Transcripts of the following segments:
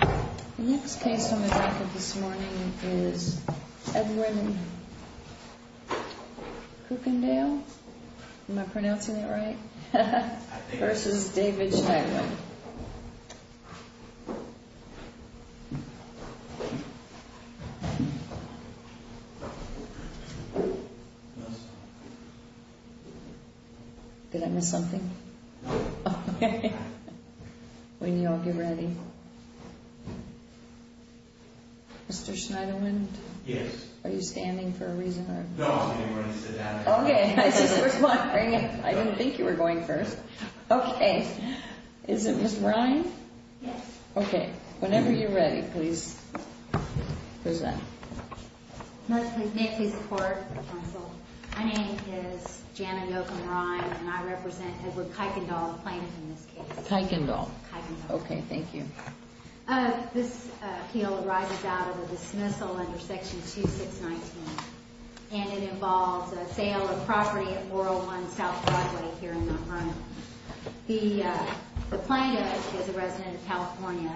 The next case on the record this morning is Edwin Kuykendall v. David Schneidewind Did I miss something? No. Mr. Schneidewind? Yes. Are you standing for a reason? No, I was waiting for you to sit down. Okay, I was just wondering. I didn't think you were going first. Okay, is it Ms. Ryan? Yes. Okay, whenever you're ready, please present. May I please support the counsel? My name is Janet Yocum Ryan and I represent Edward Kuykendall, the plaintiff in this case. Kuykendall. Kuykendall. Okay, thank you. This appeal arises out of a dismissal under section 2619 and it involves a sale of property at 401 South Broadway here in Montgomery. The plaintiff is a resident of California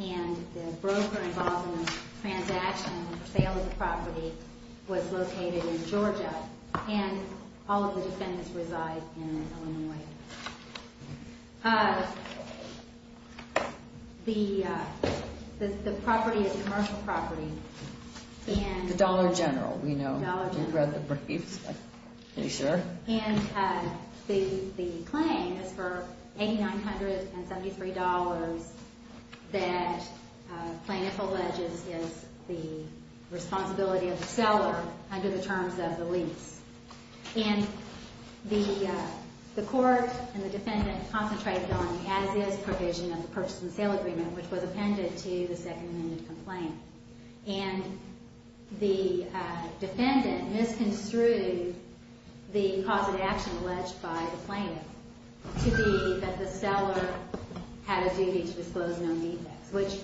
and the broker involved in the transaction and sale of the property was located in Georgia and all of the defendants reside in Illinois. The property is a commercial property and The Dollar General, we know. The Dollar General. We've read the briefs. Are you sure? And the claim is for $8,973 that the plaintiff alleges is the responsibility of the seller under the terms of the lease. And the court and the defendant concentrated on the as-is provision of the purchase and sale agreement which was appended to the second amendment complaint. And the defendant misconstrued the cause of action alleged by the plaintiff to be that the seller had a duty to disclose known defects which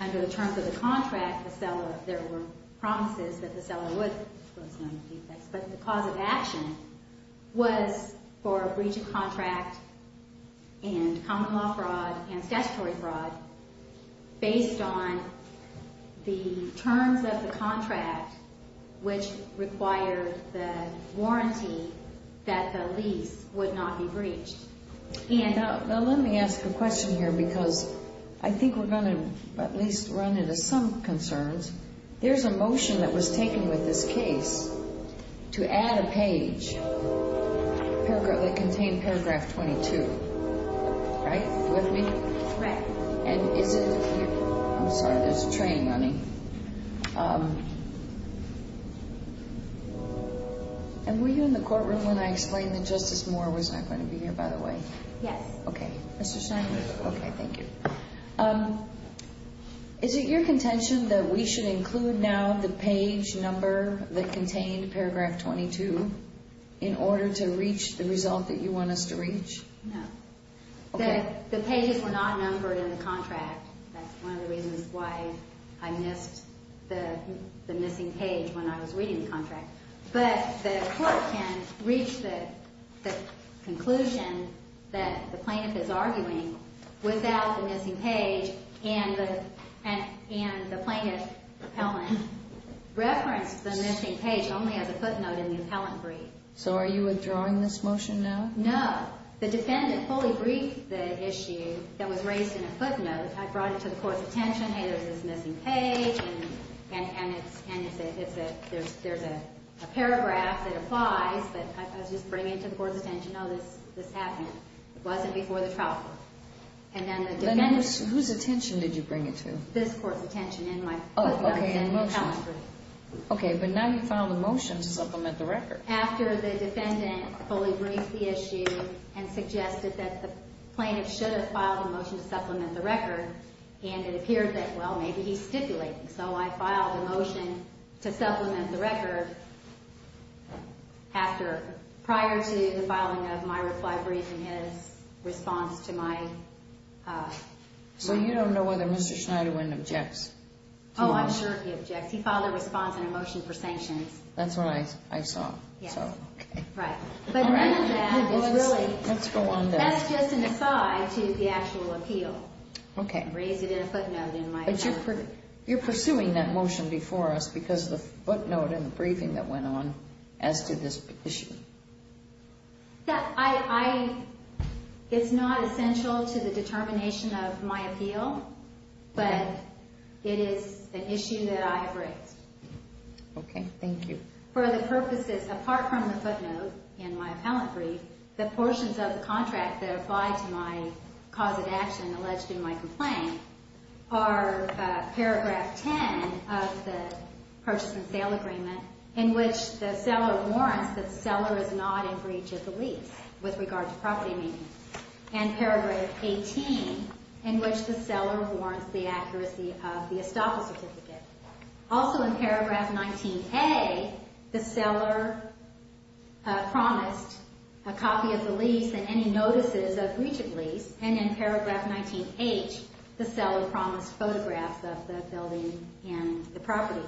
under the terms of the contract, there were promises that the seller would disclose known defects. But the cause of action was for a breach of contract and common law fraud and statutory fraud based on the terms of the contract which required the warranty that the lease would not be breached. Now let me ask a question here because I think we're going to at least run into some concerns. There's a motion that was taken with this case to add a page that contained paragraph 22. Right? With me? Correct. And is it? I'm sorry, there's a train running. And were you in the courtroom when I explained that Justice Moore was not going to be here, by the way? Yes. Okay. Mr. Schneider? Okay, thank you. Is it your contention that we should include now the page number that contained paragraph 22 in order to reach the result that you want us to reach? No. Okay. The pages were not numbered in the contract. That's one of the reasons why I missed the missing page when I was reading the contract. But the court can reach the conclusion that the plaintiff is arguing without the missing page and the plaintiff's appellant referenced the missing page only as a footnote in the appellant brief. So are you withdrawing this motion now? No. The defendant fully briefed the issue that was raised in a footnote. I brought it to the court's attention, hey, there's this missing page and there's a paragraph that applies. But I was just bringing it to the court's attention, oh, this happened. It wasn't before the trial. And then the defendant... Then whose attention did you bring it to? This court's attention in my footnote. Oh, okay, in the motion. In the appellant brief. Okay, but now you found the motion to supplement the record. After the defendant fully briefed the issue and suggested that the plaintiff should have filed a motion to supplement the record, and it appeared that, well, maybe he's stipulating. So I filed a motion to supplement the record after, prior to the filing of my reply brief and his response to my... So you don't know whether Mr. Schneiderwin objects to the motion? Oh, I'm sure he objects. That's what I saw. Yes. So, okay. Right. But none of that is really... Let's go on then. That's just an aside to the actual appeal. Okay. I raised it in a footnote in my... But you're pursuing that motion before us because of the footnote in the briefing that went on as to this issue. It's not essential to the determination of my appeal, but it is an issue that I have raised. Okay. Thank you. For the purposes, apart from the footnote in my appellate brief, the portions of the contract that apply to my cause of action alleged in my complaint are paragraph 10 of the purchase and sale agreement, in which the seller warrants that the seller is not in breach of the lease with regard to property meaning, and paragraph 18, in which the seller warrants the accuracy of the estoppel certificate. Also, in paragraph 19A, the seller promised a copy of the lease and any notices of breach of lease, and in paragraph 19H, the seller promised photographs of the building and the property.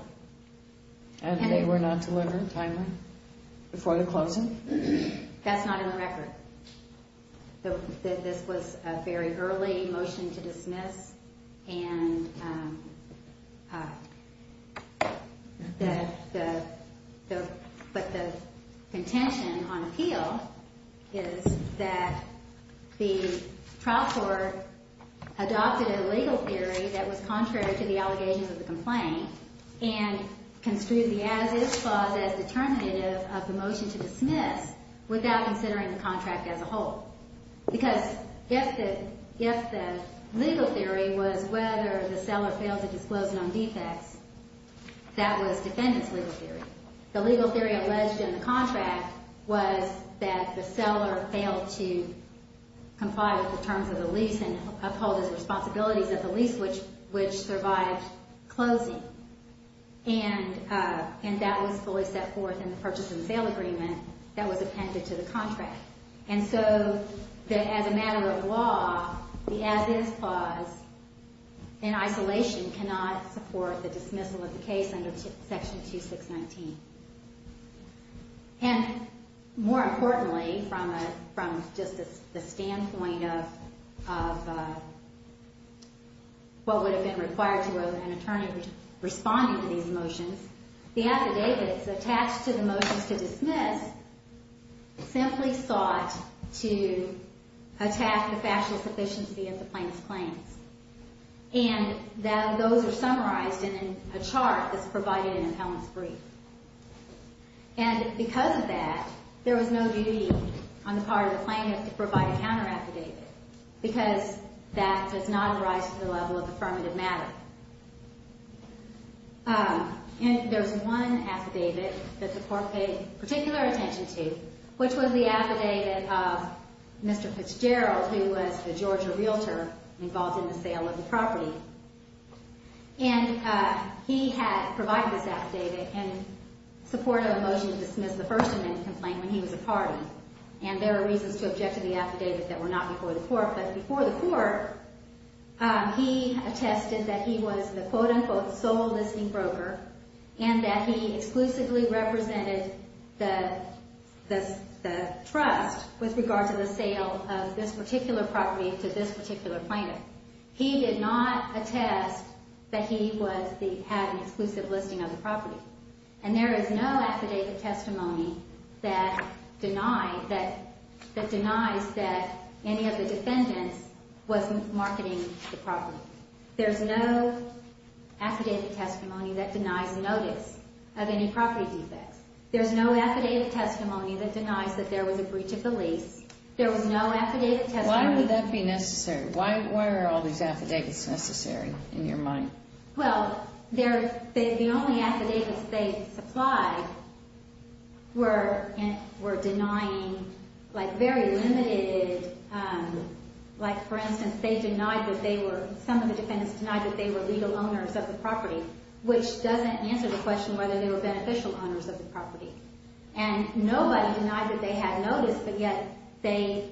And they were not delivered timely before the closing? That's not in the record. This was a very early motion to dismiss, but the contention on appeal is that the trial court adopted a legal theory that was contrary to the allegations of the complaint and construed the as-is clause as determinative of the motion to dismiss without considering the contract as a whole. Because if the legal theory was whether the seller failed to disclose non-defects, that was defendant's legal theory. The legal theory alleged in the contract was that the seller failed to comply with the terms of the lease and uphold his responsibilities at the lease, which survived closing. And that was fully set forth in the purchase and sale agreement that was appended to the contract. And so, as a matter of law, the as-is clause in isolation cannot support the dismissal of the case under section 2619. And more importantly, from just the standpoint of what would have been required to an attorney responding to these motions, the affidavits attached to the motions to dismiss simply sought to attack the factual sufficiency of the plaintiff's claims. And those are summarized in a chart that's provided in an appellant's brief. And because of that, there was no duty on the part of the plaintiff to provide a counteraffidavit, because that does not arise to the level of affirmative matter. And there's one affidavit that the Court paid particular attention to, which was the affidavit of Mr. Fitzgerald, who was the Georgia realtor involved in the sale of the property. And he had provided this affidavit in support of a motion to dismiss the first amendment complaint when he was a party. And there are reasons to object to the affidavit that were not before the Court. But before the Court, he attested that he was the quote-unquote sole listing broker and that he exclusively represented the trust with regard to the sale of this particular property to this particular plaintiff. He did not attest that he had an exclusive listing of the property. And there is no affidavit testimony that denies that any of the defendants was marketing the property. There's no affidavit testimony that denies notice of any property defects. There's no affidavit testimony that denies that there was a breach of the lease. There was no affidavit testimony... Why would that be necessary? Why are all these affidavits necessary in your mind? Well, the only affidavits they supplied were denying, like, very limited... Like, for instance, they denied that they were... Some of the defendants denied that they were legal owners of the property, which doesn't answer the question whether they were beneficial owners of the property. And nobody denied that they had notice, but yet they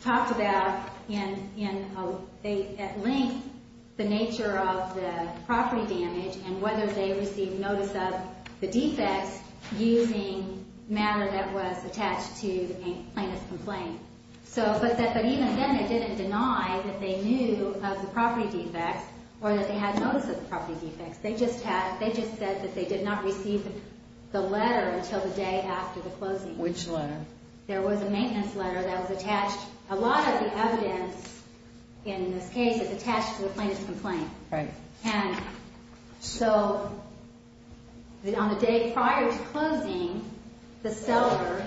talked about, at length, the nature of the property damage and whether they received notice of the defects using matter that was attached to the plaintiff's complaint. But even then, it didn't deny that they knew of the property defects or that they had notice of the property defects. They just said that they did not receive the letter until the day after the closing. Which letter? There was a maintenance letter that was attached. A lot of the evidence in this case is attached to the plaintiff's complaint. Right. And so, on the day prior to closing, the seller,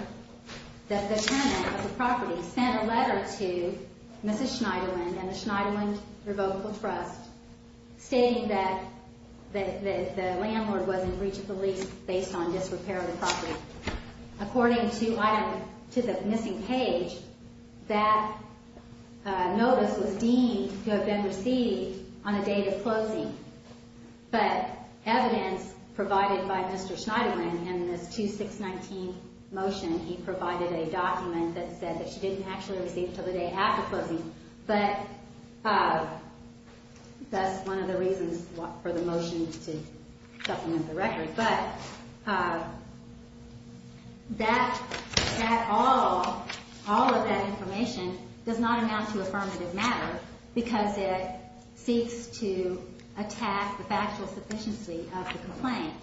the tenant of the property, sent a letter to Mrs. Schneiderlin and the Schneiderlin Revocable Trust stating that the landlord was in breach of the lease based on disrepair of the property. According to the missing page, that notice was deemed to have been received on the day of closing. But evidence provided by Mr. Schneiderlin in this 2619 motion, he provided a document that said that she didn't actually receive it until the day after closing. But that's one of the reasons for the motion to supplement the record. But all of that information does not amount to affirmative matter because it seeks to attack the factual sufficiency of the complaint.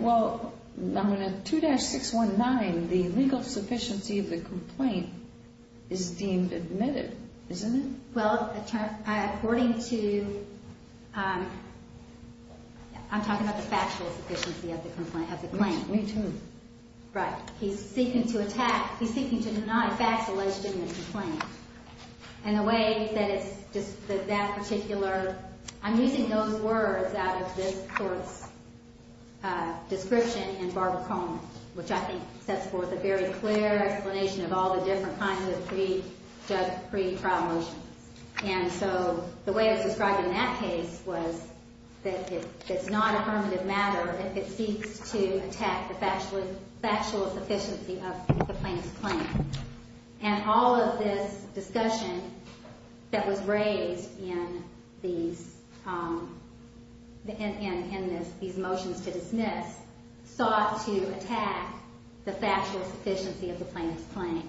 Well, in 2619, the legal sufficiency of the complaint is deemed admitted, isn't it? Well, according to, I'm talking about the factual sufficiency of the complaint. Me too. Right. He's seeking to attack, he's seeking to deny facts alleged in the complaint. And the way that it's just that that particular, I'm using those words out of this court's description in Barbara Coleman, which I think sets forth a very clear explanation of all the different kinds of pre-trial motions. And so the way it was described in that case was that it's not affirmative matter if it seeks to attack the factual sufficiency of the plaintiff's claim. And all of this discussion that was raised in these motions to dismiss sought to attack the factual sufficiency of the plaintiff's claim.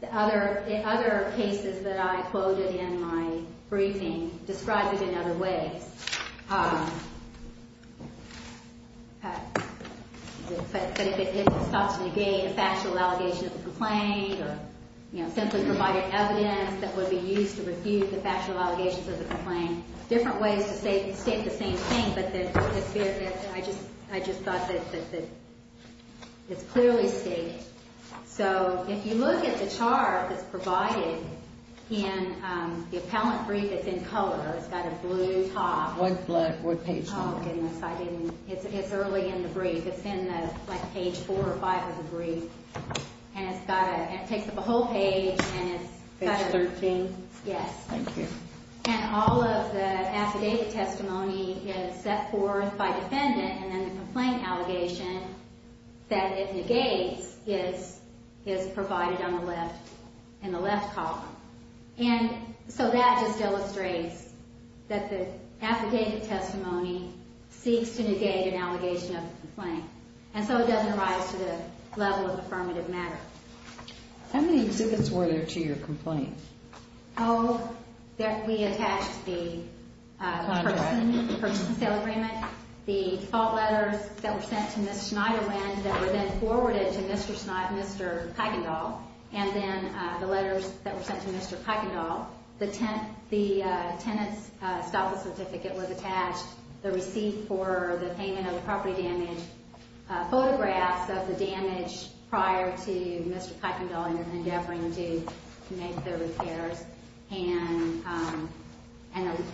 The other cases that I quoted in my briefing described it in other ways. But if it sought to negate a factual allegation of the complaint or simply provided evidence that would be used to refute the factual allegations of the complaint, different ways to state the same thing. But I just thought that it's clearly stated. So if you look at the chart that's provided in the appellant brief that's in color, it's got a blue top. What page? Oh, goodness, I didn't. It's early in the brief. It's in, like, page 4 or 5 of the brief. And it takes up a whole page. Page 13? Yes. Thank you. And all of the affidavit testimony is set forth by defendant, and then the complaint allegation that it negates is provided on the left in the left column. And so that just illustrates that the affidavit testimony seeks to negate an allegation of the complaint. And so it doesn't rise to the level of affirmative matter. How many exhibits were there to your complaint? Oh, we attached the purchase and sale agreement, the default letters that were sent to Ms. Schneiderlin that were then forwarded to Mr. Pagendahl, and then the letters that were sent to Mr. Pagendahl. The tenant's stop-loss certificate was attached, the receipt for the payment of the property damage, photographs of the damage prior to Mr. Pagendahl endeavoring to make the repairs, and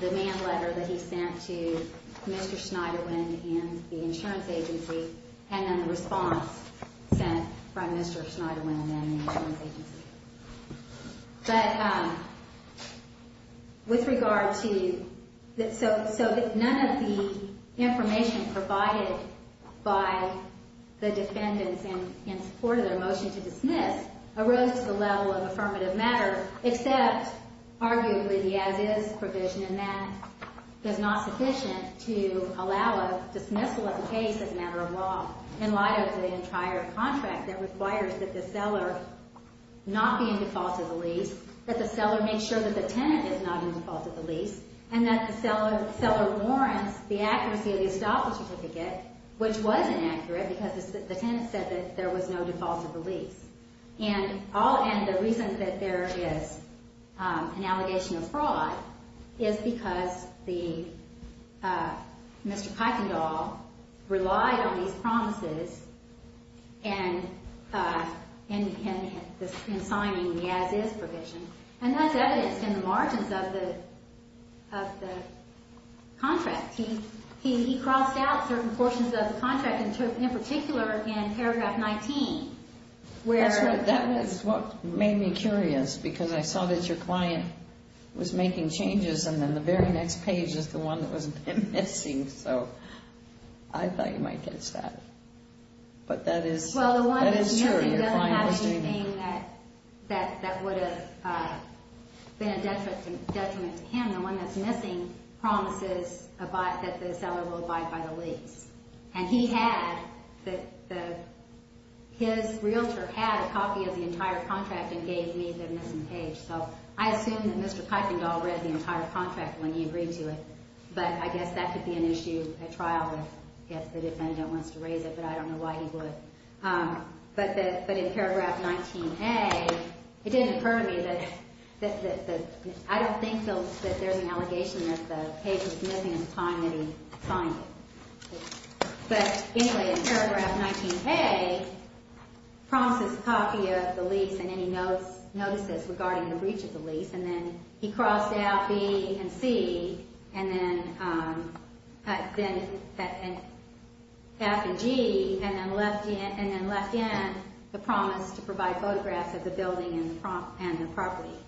the demand letter that he sent to Mr. Schneiderlin and the insurance agency, and then the response sent from Mr. Schneiderlin and the insurance agency. But with regard to the ‑‑ so none of the information provided by the defendants in support of their motion to dismiss arose to the level of affirmative matter, except arguably the as-is provision, and that is not sufficient to allow a dismissal of the case as a matter of law in light of the entire contract that requires that the seller not be in default of the lease, that the seller make sure that the tenant is not in default of the lease, and that the seller warrants the accuracy of the stop-loss certificate, which was inaccurate because the tenant said that there was no default of the lease. And the reason that there is an allegation of fraud is because Mr. Pagendahl relied on these promises in signing the as-is provision, and that's evidenced in the margins of the contract. He crossed out certain portions of the contract, in particular in paragraph 19, where ‑‑ That's right. That is what made me curious because I saw that your client was making changes and then the very next page is the one that was missing, so I thought you might catch that. But that is ‑‑ Well, the one that's missing doesn't have anything that would have been a detriment to him. The one that's missing promises that the seller will abide by the lease. And he had ‑‑ his realtor had a copy of the entire contract and gave me the missing page. So I assumed that Mr. Pagendahl read the entire contract when he agreed to it, but I guess that could be an issue at trial if the defendant wants to raise it, but I don't know why he would. But in paragraph 19A, it didn't occur to me that ‑‑ I don't think that there's an allegation that the page was missing at the time that he signed it. But anyway, in paragraph 19A, promises copy of the lease and any notices regarding the breach of the lease, and then he crossed out B and C, and then F and G, and then left in the promise to provide photographs of the building and the property.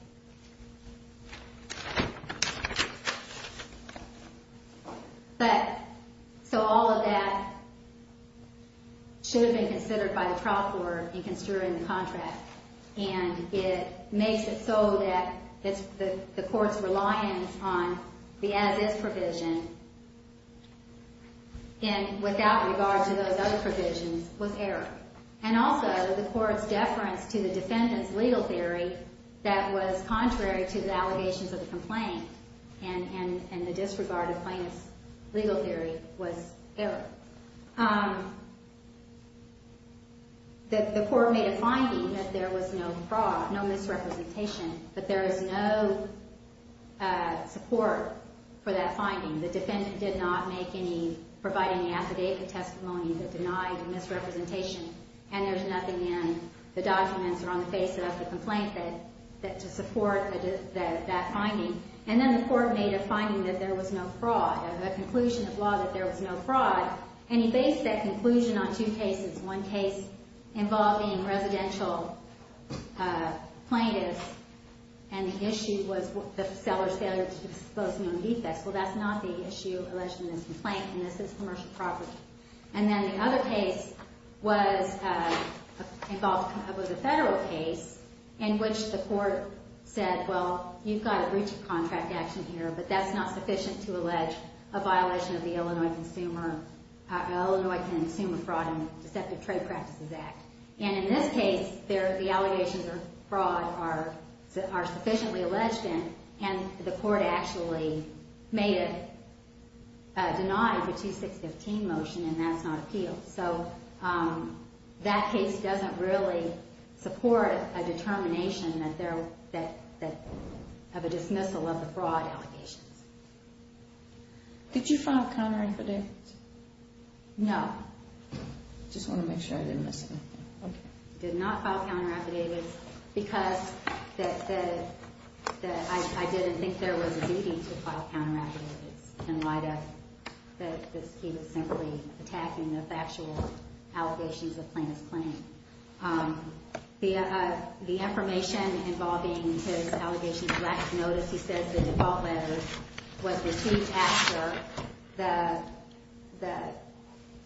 But so all of that should have been considered by the trial court in considering the contract, and it makes it so that the court's reliance on the as‑is provision and without regard to those other provisions was error. And also the court's deference to the defendant's legal theory that was contrary to the allegations of the complaint and the disregarded plaintiff's legal theory was error. The court made a finding that there was no fraud, no misrepresentation, but there is no support for that finding. The defendant did not make any ‑‑ provide any affidavit testimony that denied misrepresentation, and there's nothing in the documents or on the face of the complaint to support that finding. And then the court made a finding that there was no fraud, a conclusion of law that there was no fraud, and he based that conclusion on two cases. One case involving residential plaintiffs, and the issue was the seller's failure to disclose known defects. Well, that's not the issue alleged in this complaint, and this is commercial property. And then the other case was a federal case in which the court said, well, you've got a breach of contract action here, but that's not sufficient to allege a violation of the Illinois Consumer Fraud and Deceptive Trade Practices Act. And in this case, the allegations of fraud are sufficiently alleged in, and the court actually made it denied the 2615 motion, and that's not appealed. So that case doesn't really support a determination of a dismissal of the fraud allegations. Did you file counteraffidavits? No. I just want to make sure I didn't miss anything. Did not file counteraffidavits because I didn't think there was a duty to file counteraffidavits in light of that he was simply attacking the factual allegations of plaintiff's claim. The affirmation involving his allegations of lack of notice, he says the default letter was received after the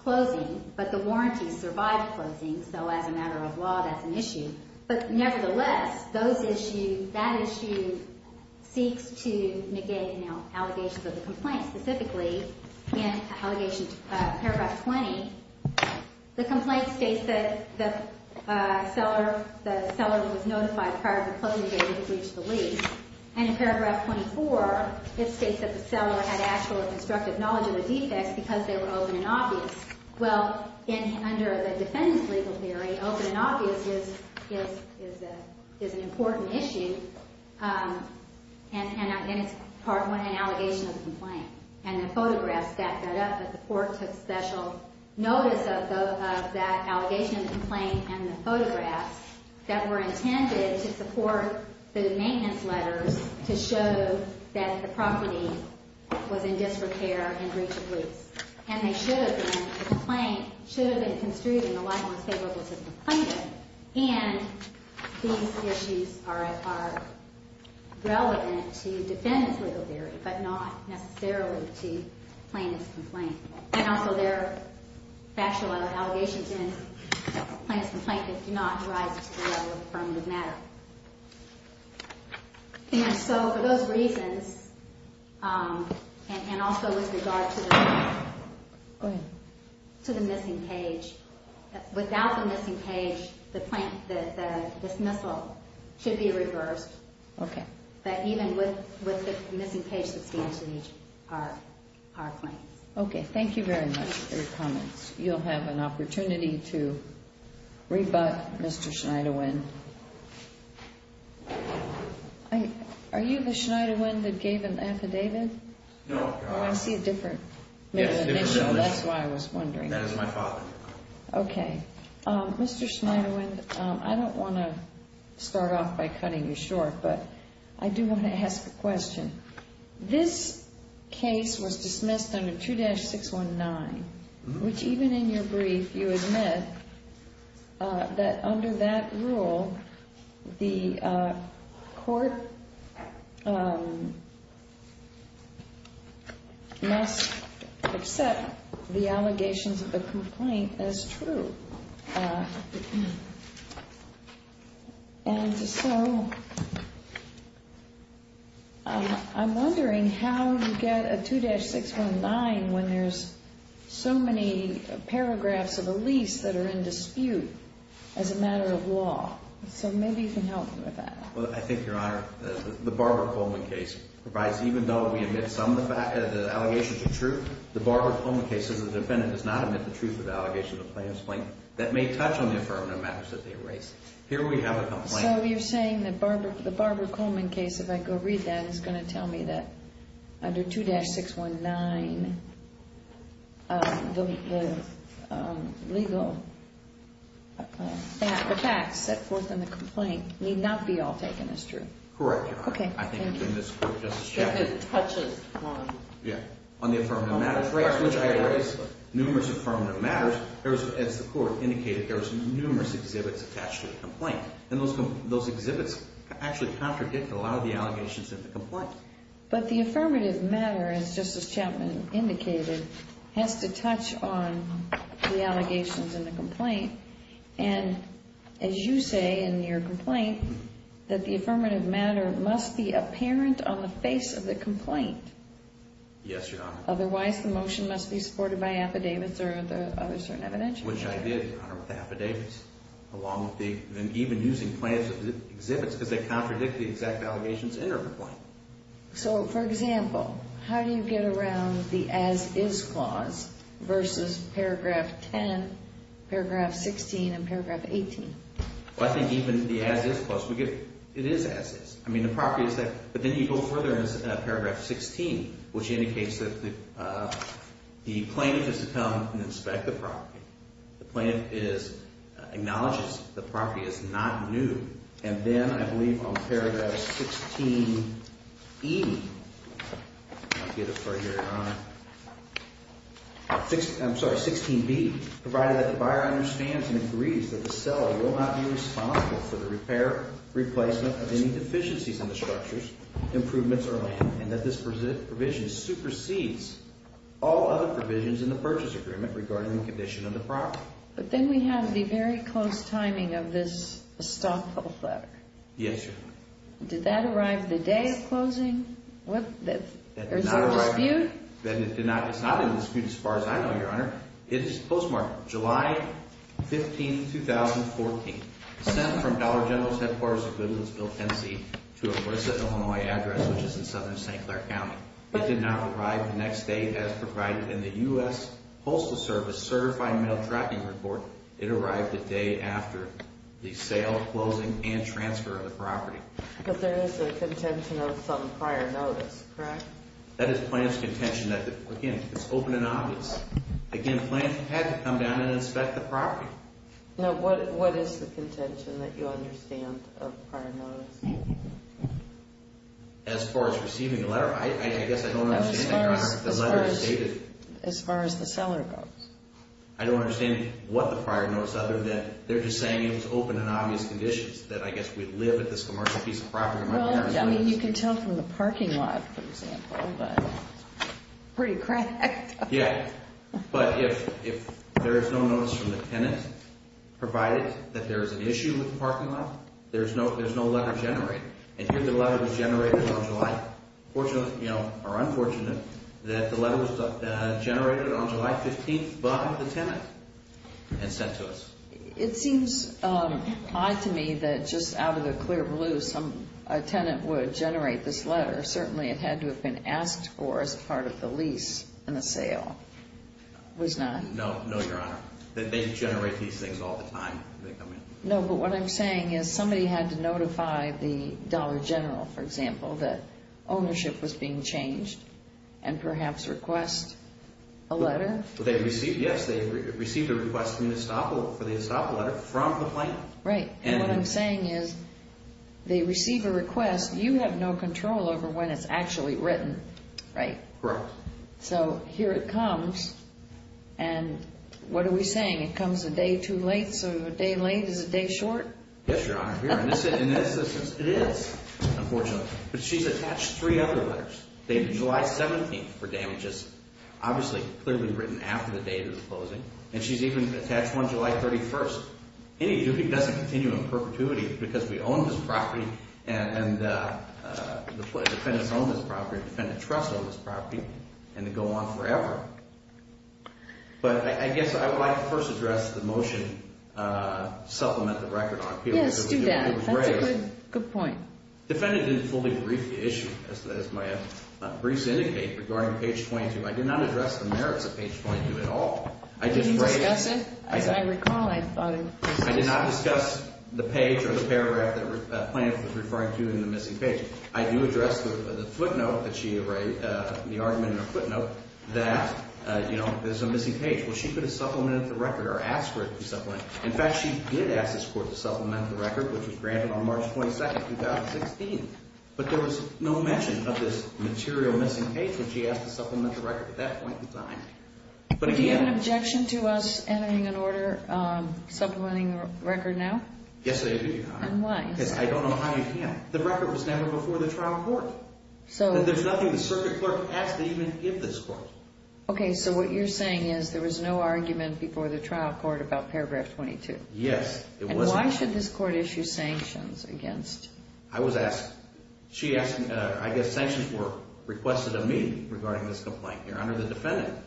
closing, but the warranty survived closing, so as a matter of law, that's an issue. But nevertheless, that issue seeks to negate allegations of the complaint. Specifically, in Paragraph 20, the complaint states that the seller was notified prior to the closing date of the breach of the lease. And in Paragraph 24, it states that the seller had actual constructive knowledge of the defects because they were open and obvious. Well, under the defendant's legal theory, open and obvious is an important issue, and it's part one, an allegation of the complaint. And the photographs back that up that the court took special notice of that allegation of the complaint and the photographs that were intended to support the maintenance letters to show that the property was in disrepair and breach of lease. And they should have been construed in the light of what's favorable to the complainant. And these issues are relevant to defendant's legal theory, but not necessarily to plaintiff's complaint. And also, there are factual allegations in plaintiff's complaint that do not rise to the level of affirmative matter. And so, for those reasons, and also with regard to the missing page, without the missing page, the dismissal should be reversed. Okay. That even with the missing page substantially are claims. Okay. Thank you very much for your comments. Next, you'll have an opportunity to rebut Mr. Schneiderwind. Are you the Schneiderwind that gave an affidavit? No. Oh, I see a different man in the picture. That's why I was wondering. That is my father. Okay. Mr. Schneiderwind, I don't want to start off by cutting you short, but I do want to ask a question. This case was dismissed under 2-619, which even in your brief, you admit that under that rule, the court must accept the allegations of the complaint as true. And so, I'm wondering how you get a 2-619 when there's so many paragraphs of the lease that are in dispute as a matter of law. So maybe you can help me with that. Well, I think, Your Honor, the Barbara Coleman case provides, even though we admit some of the allegations are true, the Barbara Coleman case, as a defendant, does not admit the truth of the allegations of the complaint as true. That may touch on the affirmative matters that they raise. Here we have a complaint. So you're saying that the Barbara Coleman case, if I go read that, is going to tell me that under 2-619, the legal facts set forth in the complaint need not be all taken as true. Correct, Your Honor. Okay. Thank you. I think in this court, Justice Chaffetz... That it touches on... Yeah, on the affirmative matters, which I raised. Numerous affirmative matters. As the court indicated, there was numerous exhibits attached to the complaint. And those exhibits actually contradict a lot of the allegations in the complaint. But the affirmative matter, as Justice Chapman indicated, has to touch on the allegations in the complaint. And, as you say in your complaint, that the affirmative matter must be apparent on the face of the complaint. Yes, Your Honor. Otherwise, the motion must be supported by affidavits or other certain evidence. Which I did, Your Honor, with affidavits. Along with the... and even using plain exhibits, because they contradict the exact allegations in our complaint. So, for example, how do you get around the as-is clause versus Paragraph 10, Paragraph 16, and Paragraph 18? Well, I think even the as-is clause, it is as-is. I mean, the property is there. But then you go further in Paragraph 16, which indicates that the plaintiff has to come and inspect the property. The plaintiff is... acknowledges the property is not new. And then, I believe, on Paragraph 16E... I'll get it for you, Your Honor. I'm sorry, 16B. Provided that the buyer understands and agrees that the seller will not be responsible for the repair, replacement of any deficiencies in the structures, improvements, or land. And that this provision supersedes all other provisions in the purchase agreement regarding the condition of the property. But then we have the very close timing of this estoppel letter. Yes, Your Honor. Did that arrive the day of closing? What? There's no dispute? It's not in dispute as far as I know, Your Honor. It is postmarked July 15, 2014. Sent from Dollar General's headquarters in Glensville, Tennessee to a Marissa, Illinois address, which is in southern St. Clair County. It did not arrive the next day as provided in the U.S. Postal Service Certified Mail Tracking Report. It arrived the day after the sale, closing, and transfer of the property. But there is a contention of some prior notice, correct? That is the plaintiff's contention. Again, it's open and obvious. Again, the plaintiff had to come down and inspect the property. Now, what is the contention that you understand of prior notice? As far as receiving the letter, I guess I don't understand, Your Honor, what the letter stated. As far as the seller goes. I don't understand what the prior notice, other than they're just saying it was open and obvious conditions. That I guess we live at this commercial piece of property. Well, I mean, you can tell from the parking lot, for example. Pretty cracked. Yeah. But if there is no notice from the tenant, provided that there is an issue with the parking lot, there's no letter generated. And here the letter was generated on July 14th, or unfortunate, that the letter was generated on July 15th by the tenant and sent to us. It seems odd to me that just out of the clear blue, a tenant would generate this letter. Certainly it had to have been asked for as part of the lease and the sale. No. Was not? No, Your Honor. They generate these things all the time. No, but what I'm saying is somebody had to notify the Dollar General, for example, that ownership was being changed and perhaps request a letter. Yes, they received a request for the estoppel letter from the plaintiff. Right. And what I'm saying is they receive a request. You have no control over when it's actually written, right? Correct. So here it comes. And what are we saying? It comes a day too late? So a day late is a day short? Yes, Your Honor. It is, unfortunately. But she's attached three other letters. They have July 17th for damages, obviously clearly written after the date of the closing. And she's even attached one July 31st. Any duty doesn't continue in perpetuity because we own this property and the defendants own this property. Defendant trusts on this property and they go on forever. But I guess I would like to first address the motion to supplement the record on appeal. Yes, do that. That's a good point. Defendant didn't fully brief the issue, as my briefs indicate, regarding page 22. I did not address the merits of page 22 at all. Did you discuss it? As I recall, I thought I did. I did not discuss the page or the paragraph that Plaintiff was referring to in the missing page. I do address the footnote that she erased, the argument in her footnote that, you know, there's a missing page. Well, she could have supplemented the record or asked for it to be supplemented. In fact, she did ask this Court to supplement the record, which was granted on March 22nd, 2016. But there was no mention of this material missing page when she asked to supplement the record at that point in time. Do you have an objection to us entering an order supplementing the record now? Yes, I do, Your Honor. And why? Because I don't know how you can. The record was never before the trial court. There's nothing the circuit clerk asked to even give this Court. Okay, so what you're saying is there was no argument before the trial court about paragraph 22. Yes, it wasn't. And why should this Court issue sanctions against? I was asked, she asked, I guess sanctions were requested of me regarding this complaint here under the defendant.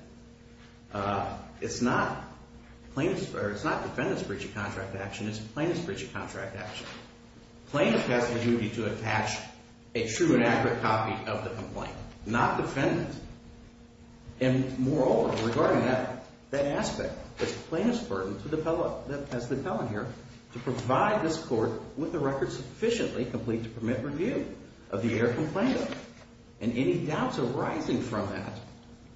It's not plaintiff's, or it's not defendant's breach of contract action. It's plaintiff's breach of contract action. Plaintiff has the duty to attach a true and accurate copy of the complaint, not defendant. And moreover, regarding that, that aspect, it's plaintiff's burden to the appellate, as the appellant here, to provide this Court with a record sufficiently complete to permit review of the air complaint. And any doubts arising from that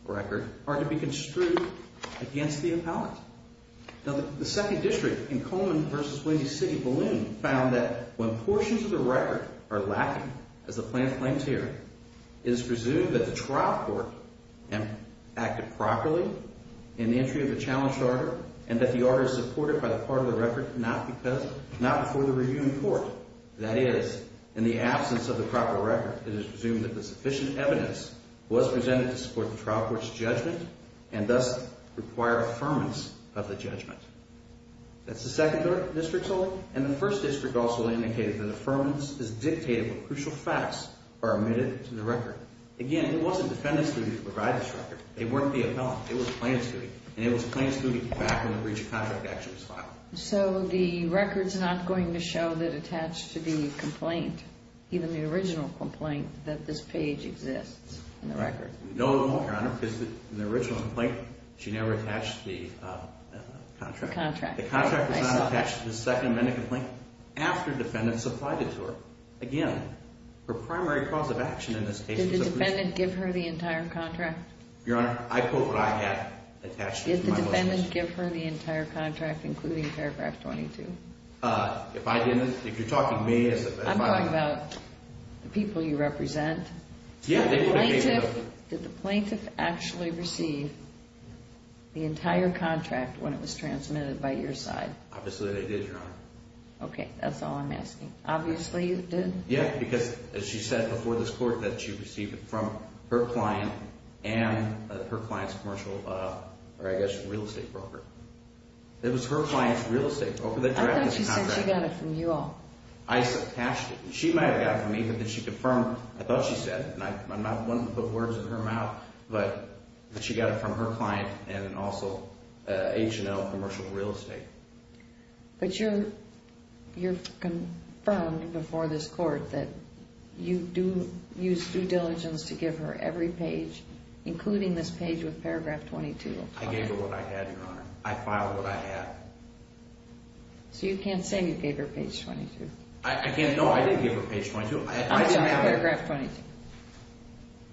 record are to be construed against the appellant. Now, the second district in Coleman v. Windy City Balloon found that when portions of the record are lacking, as the plaintiff claims here, it is presumed that the trial court acted properly in the entry of a challenged order and that the order is supported by the part of the record not before the reviewing court. That is, in the absence of the proper record, it is presumed that sufficient evidence was presented to support the trial court's judgment and thus require affirmance of the judgment. That's the second district's hold. And the first district also indicated that affirmance is dictated when crucial facts are admitted to the record. Again, it wasn't defendant's duty to provide this record. It weren't the appellant. It was plaintiff's duty. And it was plaintiff's duty to come back when the breach of contract action was filed. So the record's not going to show that attached to the complaint, even the original complaint, that this page exists in the record? No, Your Honor, because in the original complaint, she never attached the contract. Contract. The contract was not attached to the second amendment complaint after defendant supplied it to her. Again, her primary cause of action in this case is a breach of contract. Did the defendant give her the entire contract? Your Honor, I quote what I had attached to my list. Did the defendant give her the entire contract, including paragraph 22? If I didn't, if you're talking me as a plaintiff. I'm talking about the people you represent. Did the plaintiff actually receive the entire contract when it was transmitted by your side? Obviously they did, Your Honor. Okay, that's all I'm asking. Obviously you did? Yeah, because as she said before this court, that she received it from her client and her client's commercial, or I guess real estate broker. It was her client's real estate broker that grabbed this contract. I thought she said she got it from you all. I attached it. She might have gotten it from me, but then she confirmed, I thought she said it, and I'm not one to put words in her mouth, but she got it from her client and also H&L commercial real estate. But you're confirmed before this court that you do use due diligence to give her every page, including this page with paragraph 22. I gave her what I had, Your Honor. I filed what I had. So you can't say you gave her page 22? No, I did give her page 22. I don't have paragraph 22.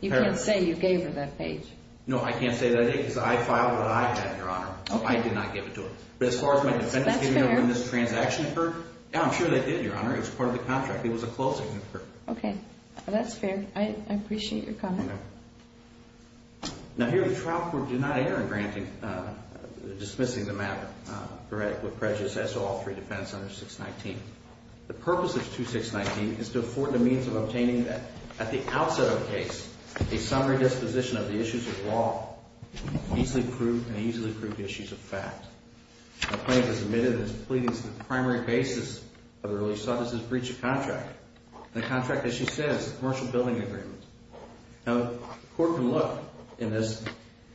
You can't say you gave her that page. No, I can't say that, because I filed what I had, Your Honor. I did not give it to her. But as far as my defendants giving me when this transaction occurred, yeah, I'm sure they did, Your Honor. It was part of the contract. It was a closing. Okay, that's fair. I appreciate your comment. Now, here the trial court did not err in dismissing the matter, correct, with prejudice as to all three defendants under 619. The purpose of 2619 is to afford the means of obtaining at the outset of the case a summary disposition of the issues of law, easily proved and easily proved issues of fact. The plaintiff has admitted his pleadings on the primary basis of the release of his breach of contract. The contract, as she says, is a commercial building agreement. Now, the court can look in this.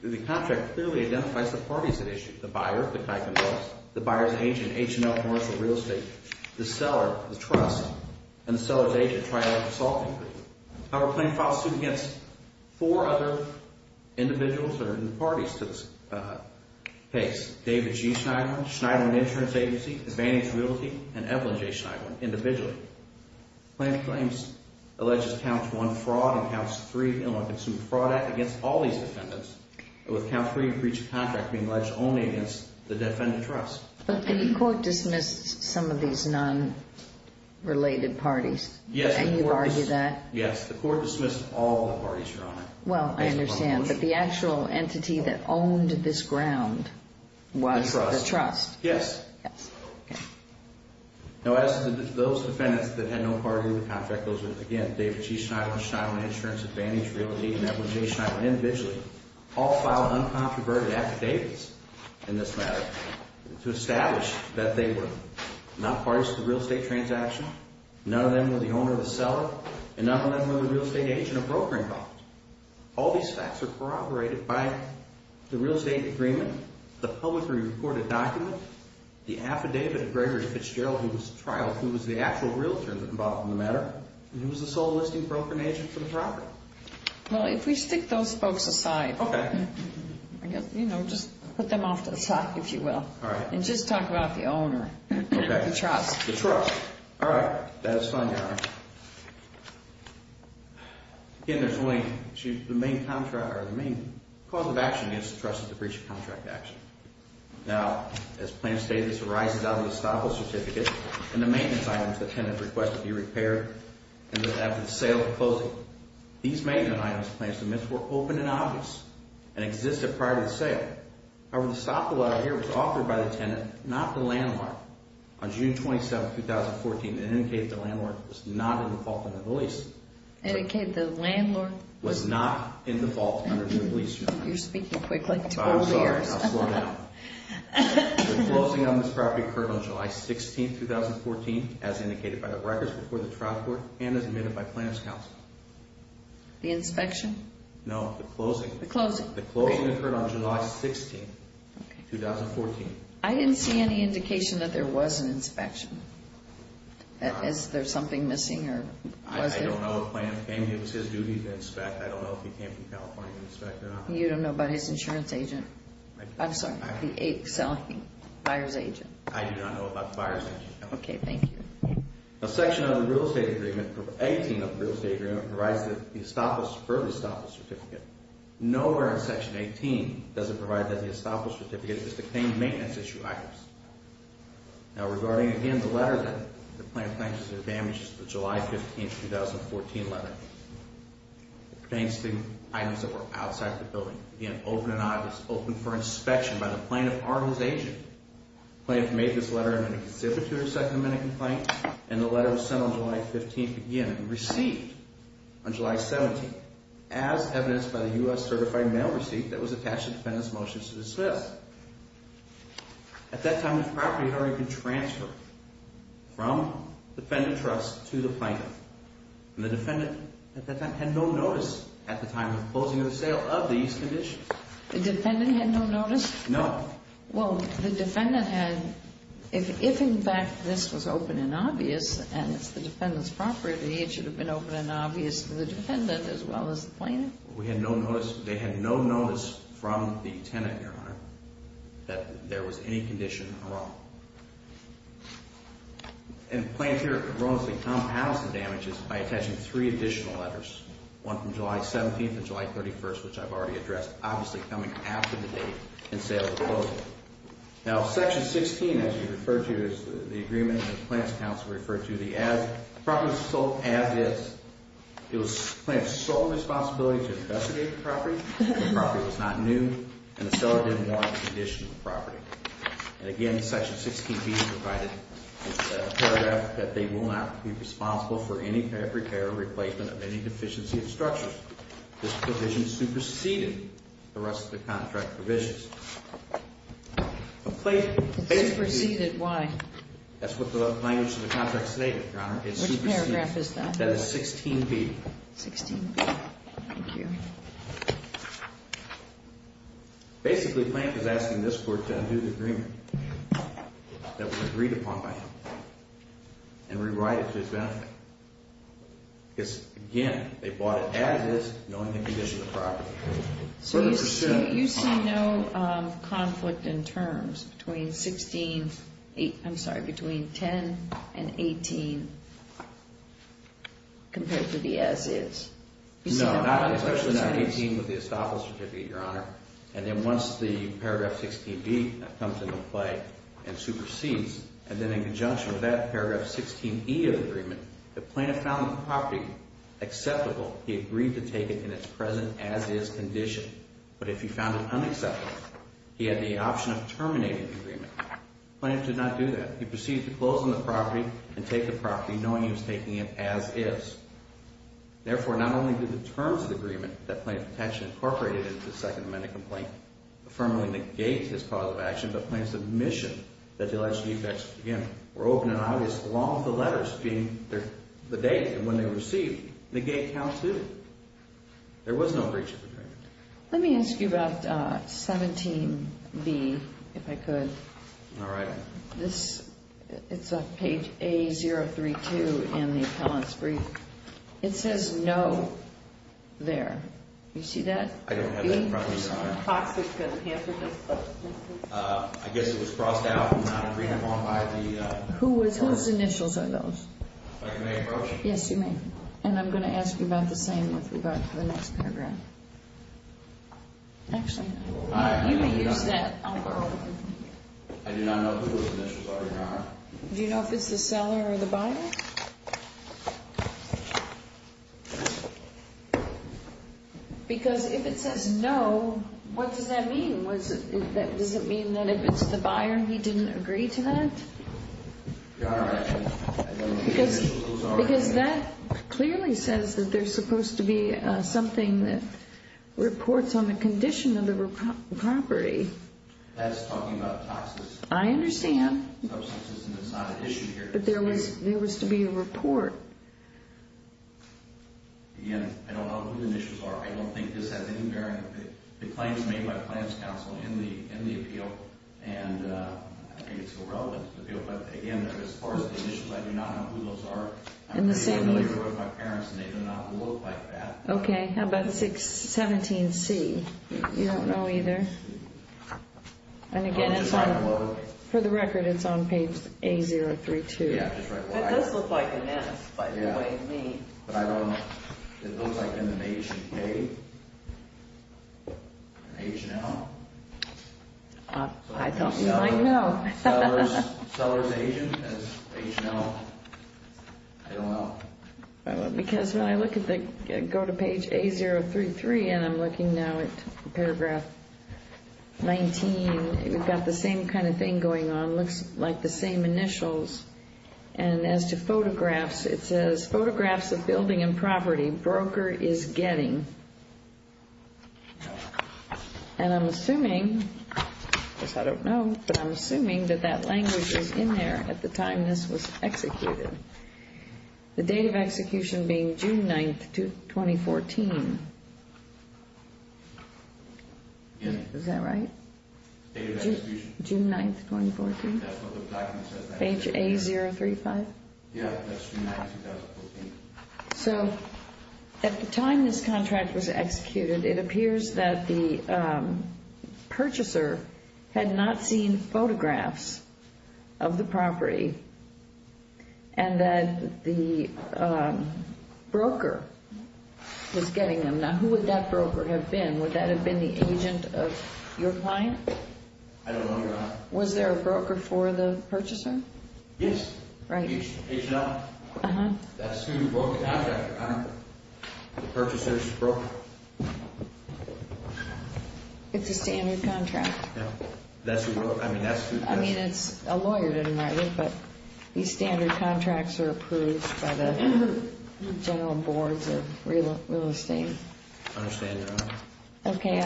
The contract clearly identifies the parties that issued it, the buyer, the type of buyers, the buyer's agent, H&L, Morrisville Real Estate, the seller, the trust, and the seller's agent, Triad Consulting Group. However, the plaintiff filed suit against four other individuals that are in the parties to this case, David G. Schneiderman, Schneiderman Insurance Agency, Advantage Realty, and Evelyn J. Schneiderman individually. The plaintiff claims alleged counts one fraud and counts three ill-consumed fraud against all these defendants, with count three breach of contract being alleged only against the defendant trust. But the court dismissed some of these non-related parties. Yes. And you argue that? Yes, the court dismissed all the parties, Your Honor. Well, I understand. But the actual entity that owned this ground was the trust. Yes. Okay. Now, as those defendants that had no party in the contract, those were, again, David G. Schneiderman, Schneiderman Insurance, Advantage Realty, and Evelyn J. Schneiderman individually, all filed uncontroverted affidavits in this matter to establish that they were not parties to the real estate transaction, none of them were the owner or the seller, and none of them were the real estate agent or broker involved. All these facts are corroborated by the real estate agreement, the publicly reported document, the affidavit of Gregory Fitzgerald, who was the trial, who was the actual realtor involved in the matter, and who was the sole listing broker and agent for the property. Well, if we stick those folks aside. Okay. You know, just put them off to the side, if you will. All right. And just talk about the owner. The trust. The trust. All right. That is fine, Your Honor. Again, there's a link. The main cause of action against the trust is the breach of contract action. Now, as plan stated, this arises out of the estoppel certificate and the maintenance items the tenant requested be repaired after the sale or closing. These maintenance items, plans to miss, were open and obvious and existed prior to the sale. However, the estoppel out here was authored by the tenant, not the landlord. On June 27, 2014, it indicated the landlord was not in the fault under the lease. It indicated the landlord was not in the fault under the lease, Your Honor. You're speaking quickly. 12 years. I'm sorry. I'll slow down. The closing on this property occurred on July 16, 2014, as indicated by the records before the trial court and as admitted by Planner's Counsel. The inspection? No, the closing. The closing. The closing occurred on July 16, 2014. I didn't see any indication that there was an inspection. Is there something missing or was there? I don't know the plan. It was his duty to inspect. I don't know if he came from California to inspect or not. You don't know about his insurance agent? I'm sorry. The buyer's agent. I do not know about the buyer's agent. Okay, thank you. A section of the real estate agreement, 18 of the real estate agreement, provides for the estoppel certificate. Nowhere in Section 18 does it provide that the estoppel certificate is to claim maintenance issue items. Now, regarding, again, the letter that the plan claims to have damaged, the July 15, 2014 letter, thanks to items that were outside the building, again, open and obvious. Open for inspection by the plaintiff or his agent. The plaintiff made this letter and then consented to a second amendment complaint, and the letter was sent on July 15, again, and received on July 17, as evidenced by the U.S. certified mail receipt that was attached to the defendant's motion to dismiss. At that time, the property had already been transferred from the defendant trust to the plaintiff, and the defendant, at that time, had no notice at the time of the closing of the sale of these conditions. The defendant had no notice? No. Well, the defendant had, if in fact this was open and obvious, and it's the defendant's property, it should have been open and obvious to the defendant as well as the plaintiff? We had no notice. They had no notice from the tenant, Your Honor, that there was any condition wrong. And the plaintiff erroneously compounded the damages by attaching three additional letters, one from July 17 and July 31, which I've already addressed, obviously coming after the date and sale of the property. Now, Section 16, as you referred to, is the agreement that the Plaintiff's Counsel referred to. The property was sold as is. It was the plaintiff's sole responsibility to investigate the property. The property was not new, and the seller didn't want any addition to the property. And, again, Section 16B provided a paragraph that they will not be responsible for any repair or replacement of any deficiency of structure. This provision superseded the rest of the contract provisions. Superseded? Why? That's what the language of the contract stated, Your Honor. Which paragraph is that? That is 16B. 16B. Thank you. Basically, Plaintiff is asking this Court to undo the agreement that was agreed upon by him and rewrite it to his benefit. Because, again, they bought it as is, knowing the condition of the property. So you see no conflict in terms between 16, I'm sorry, between 10 and 18, compared to the as is? No, especially not 18 with the estoppel certificate, Your Honor. And then once the paragraph 16B comes into play and supersedes, and then in conjunction with that paragraph 16E of the agreement, the plaintiff found the property acceptable. He agreed to take it in its present as is condition. But if he found it unacceptable, he had the option of terminating the agreement. The plaintiff did not do that. He proceeded to close on the property and take the property, knowing he was taking it as is. Therefore, not only did the terms of the agreement that Plaintiff had actually incorporated into the Second Amendment complaint affirmably negate his cause of action, but Plaintiff's admission that the alleged defects, again, were open and obvious, along with the letters being the date and when they were received, negate count two. There was no breach of agreement. Let me ask you about 17B, if I could. All right. It's on page A032 in the appellant's brief. It says no there. Do you see that? I don't have that in front of me, Your Honor. I guess it was crossed out and not agreed upon by the appellant. Whose initials are those? If I may, Your Honor. Yes, you may. And I'm going to ask you about the same with regard to the next paragraph. Actually, you may use that. I do not know whose initials are, Your Honor. Do you know if it's the seller or the buyer? Because if it says no, what does that mean? Does it mean that if it's the buyer, he didn't agree to that? Your Honor, I don't know whose initials are. Because that clearly says that there's supposed to be something that reports on the condition of the property. That's talking about toxicity. I understand. It's not an issue here. But there was to be a report. Again, I don't know whose initials are. I don't think this has any bearing. The claim is made by Plans Council in the appeal, and I think it's irrelevant. But, again, as far as the initials, I do not know who those are. I'm familiar with my parents, and they do not look like that. Okay. How about 17C? You don't know either? And, again, for the record, it's on page A032. It does look like an S, by the way, to me. But I don't know. It looks like an H and K, an H and L. I thought you might know. Seller's agent, that's H and L. I don't know. Because when I go to page A033, and I'm looking now at paragraph 19, we've got the same kind of thing going on. It looks like the same initials. And as to photographs, it says, photographs of building and property broker is getting. And I'm assuming, because I don't know, but I'm assuming that that language was in there at the time this was executed. The date of execution being June 9th, 2014. Is that right? The date of execution. June 9th, 2014. That's what the document says. Page A035? Yeah, that's June 9th, 2014. So at the time this contract was executed, it appears that the purchaser had not seen photographs of the property and that the broker was getting them. Now, who would that broker have been? Would that have been the agent of your client? I don't know, Your Honor. Was there a broker for the purchaser? Yes. Right. H and L. That's who broke the contract. The purchaser's broker. It's a standard contract. Yeah. I mean, that's who broke it. I mean, it's a lawyer didn't write it, but these standard contracts are approved by the general boards of real estate. I understand, Your Honor. Okay.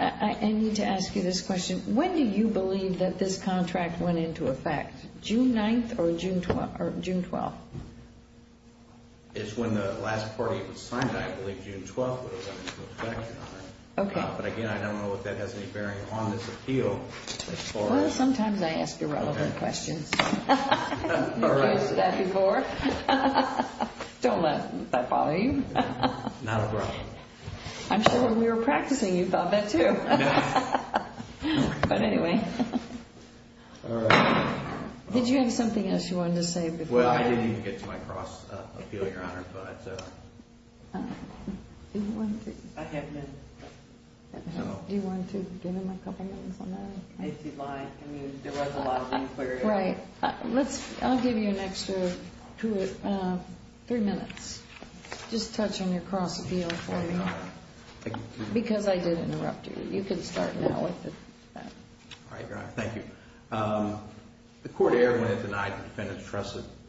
I need to ask you this question. When do you believe that this contract went into effect? June 9th or June 12th? It's when the last party that signed it, I believe June 12th, when it went into effect, Your Honor. Okay. But, again, I don't know if that has any bearing on this appeal. Well, sometimes I ask irrelevant questions. You've asked that before. Don't let that bother you. Not at all. I'm sure when we were practicing, you thought that too. But, anyway. All right. Did you have something else you wanted to say before? Well, I didn't even get to my cross appeal, Your Honor. All right. I have been. Do you want to give him a couple minutes on that? If he'd like. I mean, there was a lot of inquiry. Right. I'll give you an extra three minutes. Just touch on your cross appeal for me. Because I did interrupt you. You can start now with it. All right, Your Honor. Thank you. The court erred when it denied the defendant's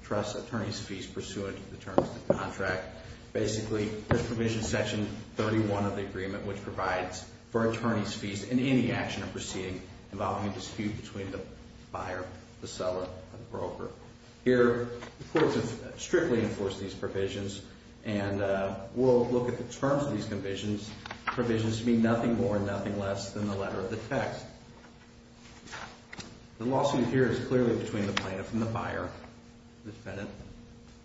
trust attorney's fees pursuant to the terms of the contract. Basically, this provision, section 31 of the agreement, which provides for attorney's fees in any action or proceeding involving a dispute between the buyer, the seller, or the broker. Here, the court has strictly enforced these provisions. And we'll look at the terms of these provisions. The provisions mean nothing more and nothing less than the letter of the text. The lawsuit here is clearly between the plaintiff and the buyer. The defendant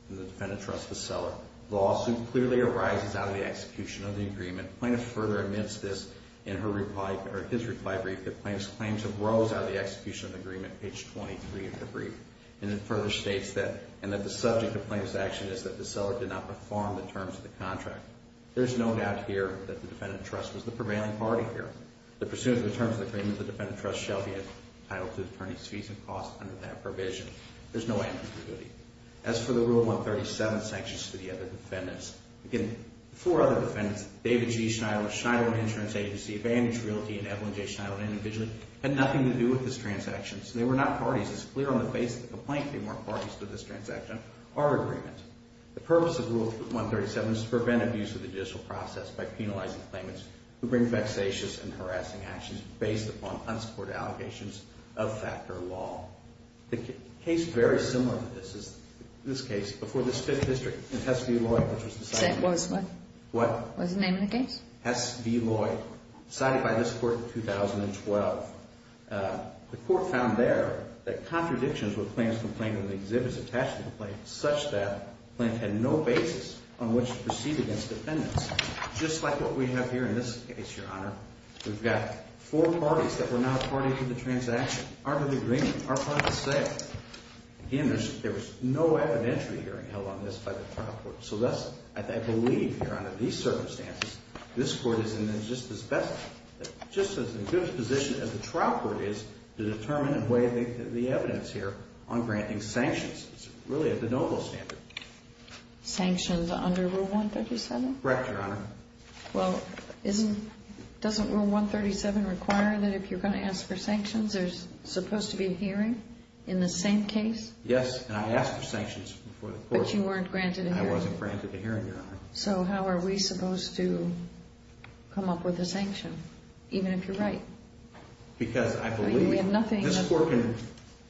and the defendant trusts the seller. The lawsuit clearly arises out of the execution of the agreement. The plaintiff further admits this in his reply brief, that the plaintiff's claims arose out of the execution of the agreement, page 23 of the brief. And it further states that, and that the subject of the plaintiff's action is that the seller did not perform the terms of the contract. There's no doubt here that the defendant trust was the prevailing party here. The pursuant to the terms of the agreement, the defendant trust shall be entitled to attorney's fees and costs under that provision. There's no ambiguity. As for the Rule 137 sanctions to the other defendants, again, the four other defendants, David G. Schneider, Schneider Insurance Agency, Vanity Realty, and Evelyn J. Schneider individually, had nothing to do with this transaction. So they were not parties. It's clear on the basis of the complaint that they weren't parties to this transaction or agreement. The purpose of Rule 137 is to prevent abuse of the judicial process by penalizing claimants who bring vexatious and harassing actions based upon unsupported allegations of fact or law. The case very similar to this is this case before this Fifth District in Hess v. Lloyd, which was decided... Was what? What? Was the name of the case? Hess v. Lloyd, decided by this Court in 2012. The Court found there that contradictions with claims complained in the exhibit attached to the complaint such that the plaintiff had no basis on which to proceed against defendants. Just like what we have here in this case, Your Honor, we've got four parties that were not parties to the transaction. Aren't of the agreement. Aren't part of the sale. Again, there was no evidentiary hearing held on this by the trial court. So thus, I believe, Your Honor, in these circumstances, this Court is in just as good a position as the trial court is to determine and weigh the evidence here on granting sanctions. It's really at the noble standard. Sanctions under Rule 137? Correct, Your Honor. Well, doesn't Rule 137 require that if you're going to ask for sanctions there's supposed to be a hearing in the same case? Yes, and I asked for sanctions before the Court. But you weren't granted a hearing. I wasn't granted a hearing, Your Honor. So how are we supposed to come up with a sanction, even if you're right? Because I believe this Court can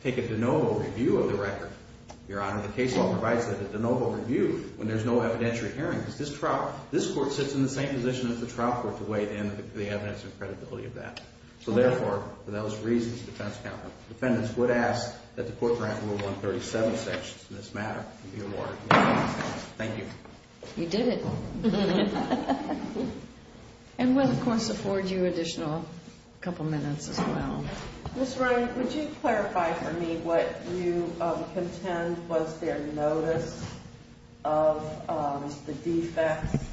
take a de novo review of the record, Your Honor. The case law provides a de novo review when there's no evidentiary hearing. This Court sits in the same position as the trial court to weigh the evidence and credibility of that. So therefore, for those reasons, defense counsel, defendants would ask that the Court grant Rule 137 sanctions in this matter to be awarded. Thank you. You did it. And we'll, of course, afford you additional couple minutes as well. Ms. Ryan, would you clarify for me what you contend was their notice of the defects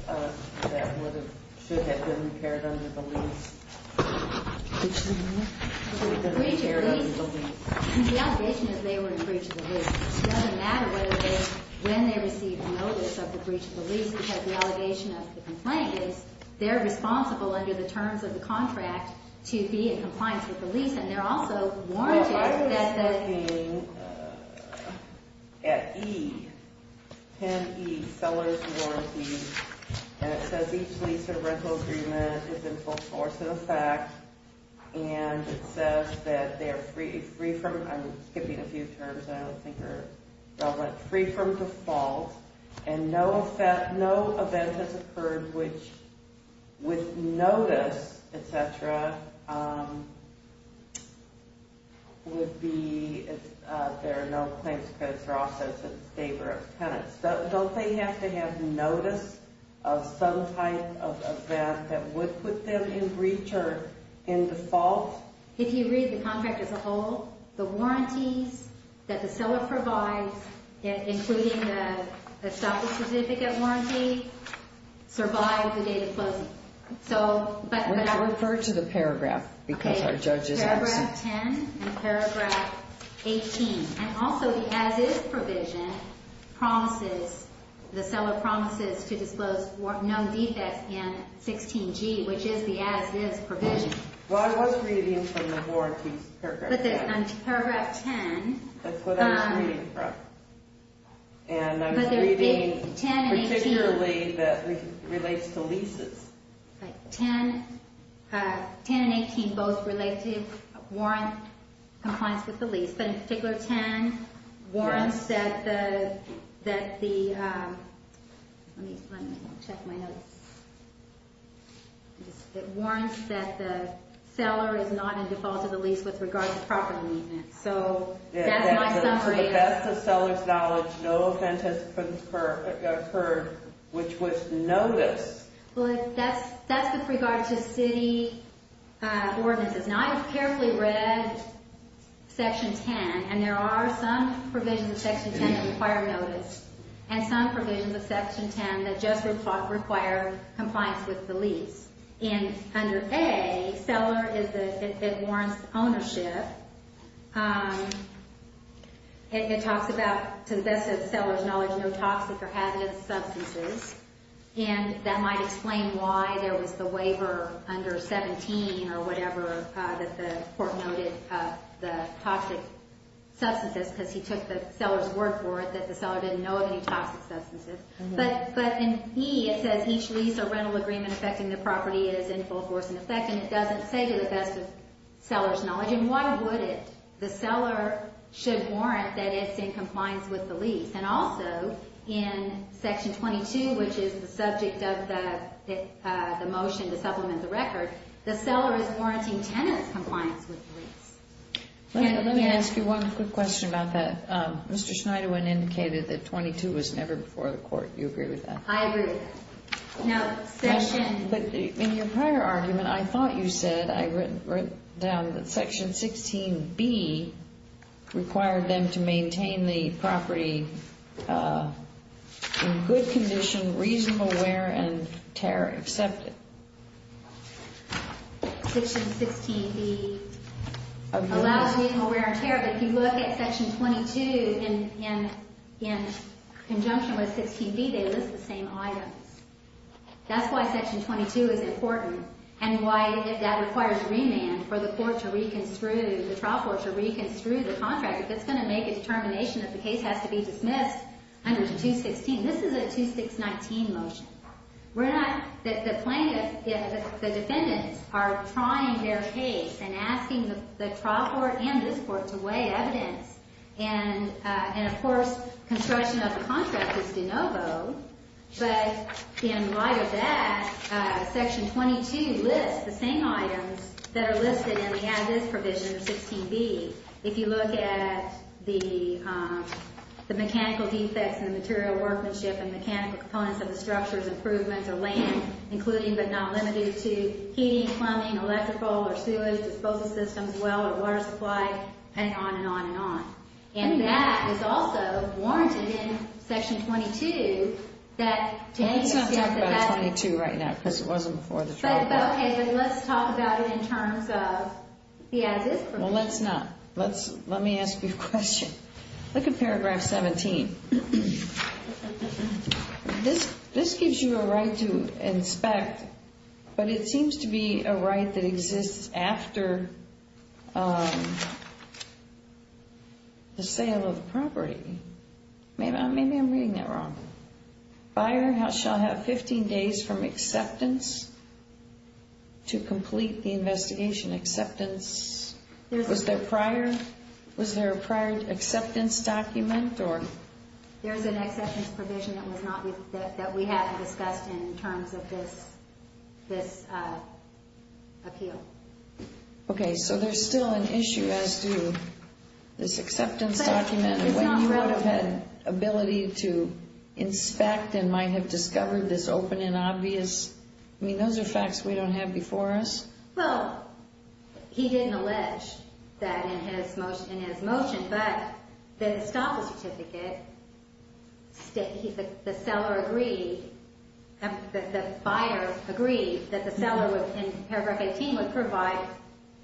that should have been impaired under the lease? The breach of the lease? The allegation is they were in breach of the lease. It doesn't matter when they received the notice of the breach of the lease because the allegation of the complaint is they're responsible under the terms of the contract to be in compliance with the lease. And they're also warranted that the – and it says each lease or rental agreement is in full force in effect and it says that they are free from – I'm skipping a few terms that I don't think are relevant – free from default and no event has occurred which with notice, et cetera, would be – there are no claims credits. They're also in favor of penance. Don't they have to have notice of some type of that that would put them in breach or in default? If you read the contract as a whole, the warranties that the seller provides, including the stoppage certificate warranty, survive the date of closing. So – Refer to the paragraph because our judge is absent. Okay. The seller promises to disclose no defects in 16G, which is the as-is provision. Well, I was reading from the warranties, paragraph 10. Paragraph 10. That's what I was reading from. And I was reading particularly that it relates to leases. 10 and 18 both relate to warrant compliance with the lease, but in particular 10 warrants that the – let me check my notes. It warrants that the seller is not in default of the lease with regard to property maintenance. So that's my summary. To the best of seller's knowledge, no event has occurred which was notice. Well, that's with regard to city ordinances. Now, I have carefully read Section 10, and there are some provisions of Section 10 that require notice and some provisions of Section 10 that just require compliance with the lease. And under A, seller is a – it warrants ownership. It talks about, to the best of seller's knowledge, no toxic or hazardous substances. And that might explain why there was the waiver under 17 or whatever that the court noted the toxic substances because he took the seller's word for it that the seller didn't know of any toxic substances. But in E, it says each lease or rental agreement affecting the property is in full force in effect, and it doesn't say to the best of seller's knowledge. And why would it? The seller should warrant that it's in compliance with the lease. And also, in Section 22, which is the subject of the motion to supplement the record, the seller is warranting tenant's compliance with the lease. Let me ask you one quick question about that. Mr. Schneiderman indicated that 22 was never before the court. Do you agree with that? I agree with that. Now, Section – But in your prior argument, I thought you said – you wrote down that Section 16B required them to maintain the property in good condition, reasonable wear and tear accepted. Section 16B allows reasonable wear and tear, but if you look at Section 22 in conjunction with 16B, they list the same items. That's why Section 22 is important, and why, if that requires remand for the court to reconstruct – the trial court to reconstruct the contract, that's going to make a determination that the case has to be dismissed under 216. This is a 2619 motion. We're not – the plaintiff – the defendants are trying their case and asking the trial court and this court to weigh evidence. And, of course, construction of the contract is de novo, but in light of that, Section 22 lists the same items that are listed in the additives provision of 16B. If you look at the mechanical defects in the material workmanship and mechanical components of the structures, improvements, or land, including but not limited to heating, plumbing, electrical, or sewage disposal systems, well or water supply, and on and on and on. And that is also warranted in Section 22 that – Well, let's not talk about 22 right now because it wasn't before the trial court. Okay, but let's talk about it in terms of the additives provision. Well, let's not. Let's – let me ask you a question. Look at paragraph 17. This gives you a right to inspect, but it seems to be a right that exists after the sale of the property. Maybe I'm reading that wrong. Buyer shall have 15 days from acceptance to complete the investigation. Acceptance – was there a prior acceptance document or – this appeal? Okay, so there's still an issue as to this acceptance document. It's not relevant. You would have had ability to inspect and might have discovered this open and obvious – I mean, those are facts we don't have before us. Well, he didn't allege that in his motion, but the estoppel certificate, the seller agreed – the buyer agreed that the seller in paragraph 18 would provide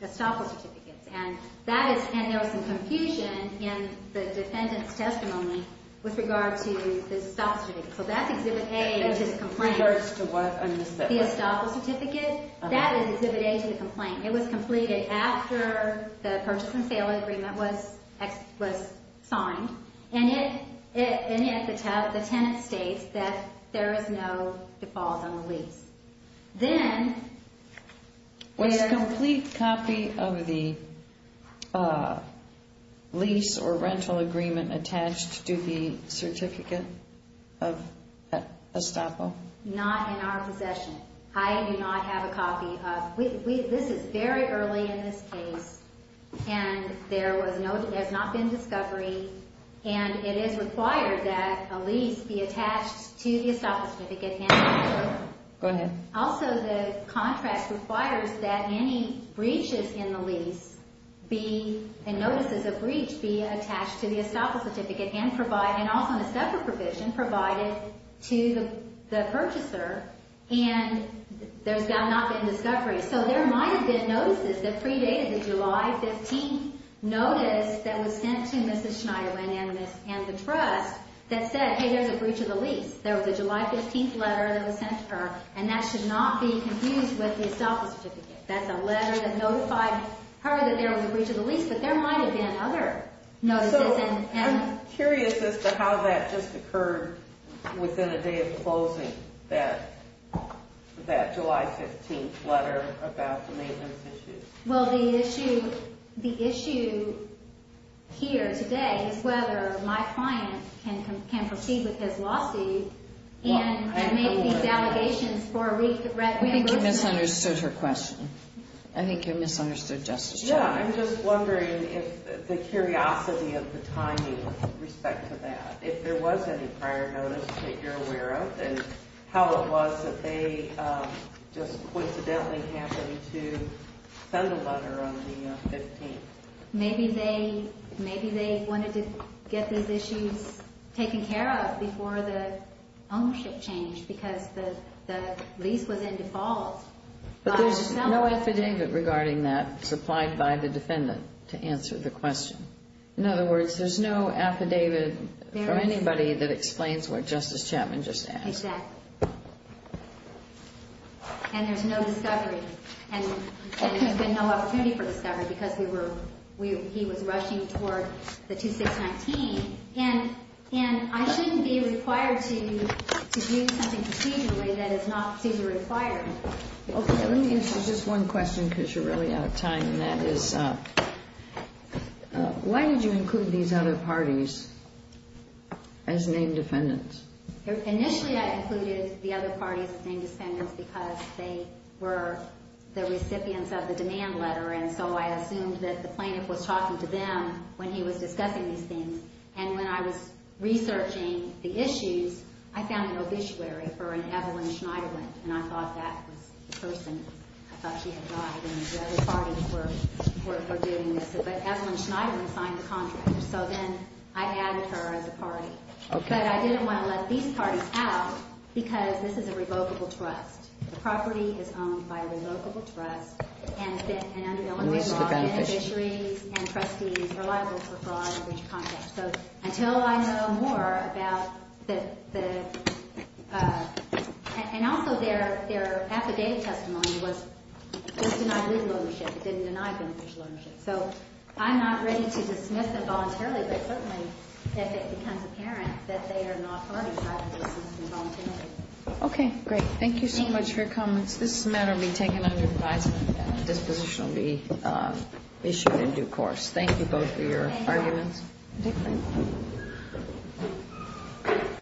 estoppel certificates. And that is – and there was some confusion in the defendant's testimony with regard to the estoppel certificate. So that's Exhibit A to the complaint. It refers to what? The estoppel certificate? That is Exhibit A to the complaint. It was completed after the purchase and sale agreement was signed, and yet the tenant states that there is no default on the lease. Then – Was a complete copy of the lease or rental agreement attached to the certificate of estoppel? Not in our possession. I do not have a copy of – this is very early in this case, and there was no – there has not been discovery, and it is required that a lease be attached to the estoppel certificate. Go ahead. Also, the contract requires that any breaches in the lease be – and notices of breach be attached to the estoppel certificate and also a separate provision provided to the purchaser, and there has not been discovery. So there might have been notices that predated the July 15th notice that was sent to Mrs. Schneider and the trust that said, hey, there's a breach of the lease. There was a July 15th letter that was sent to her, and that should not be confused with the estoppel certificate. That's a letter that notified her that there was a breach of the lease, but there might have been other notices. I'm curious as to how that just occurred within a day of closing that July 15th letter about the maintenance issues. Well, the issue here today is whether my client can proceed with his lawsuit and make these allegations for reimbursement. I think you misunderstood her question. I think you misunderstood Justice Schneider. Yeah, I'm just wondering if the curiosity of the timing with respect to that, if there was any prior notice that you're aware of, and how it was that they just coincidentally happened to send a letter on the 15th. Maybe they wanted to get these issues taken care of before the ownership changed because the lease was in default. But there's no affidavit regarding that supplied by the defendant to answer the question. In other words, there's no affidavit from anybody that explains what Justice Chapman just asked. Exactly. And there's no discovery. And there's been no opportunity for discovery because he was rushing toward the 2619. And I shouldn't be required to do something procedurally that is not procedurally required. Okay. Let me answer just one question because you're really out of time, and that is, why did you include these other parties as named defendants? Initially I included the other parties as named defendants because they were the recipients of the demand letter, and so I assumed that the plaintiff was talking to them when he was discussing these things. And when I was researching the issues, I found an obituary for an Evelyn Schneiderlin, and I thought that was the person. I thought she had lied and the other parties were doing this. But Evelyn Schneiderlin signed the contract, so then I added her as a party. But I didn't want to let these parties out because this is a revocable trust. The property is owned by a revocable trust and under Eleanor's law, beneficiaries and trustees are liable for fraud and breach of contract. So until I know more about the – and also their affidavit testimony was denied legal ownership. It didn't deny beneficial ownership. So I'm not ready to dismiss them voluntarily, but certainly if it becomes apparent that they are not parties, I will dismiss them voluntarily. Okay, great. Thank you so much for your comments. This matter will be taken under advisement and a disposition will be issued in due course. Thank you both for your arguments. Thank you.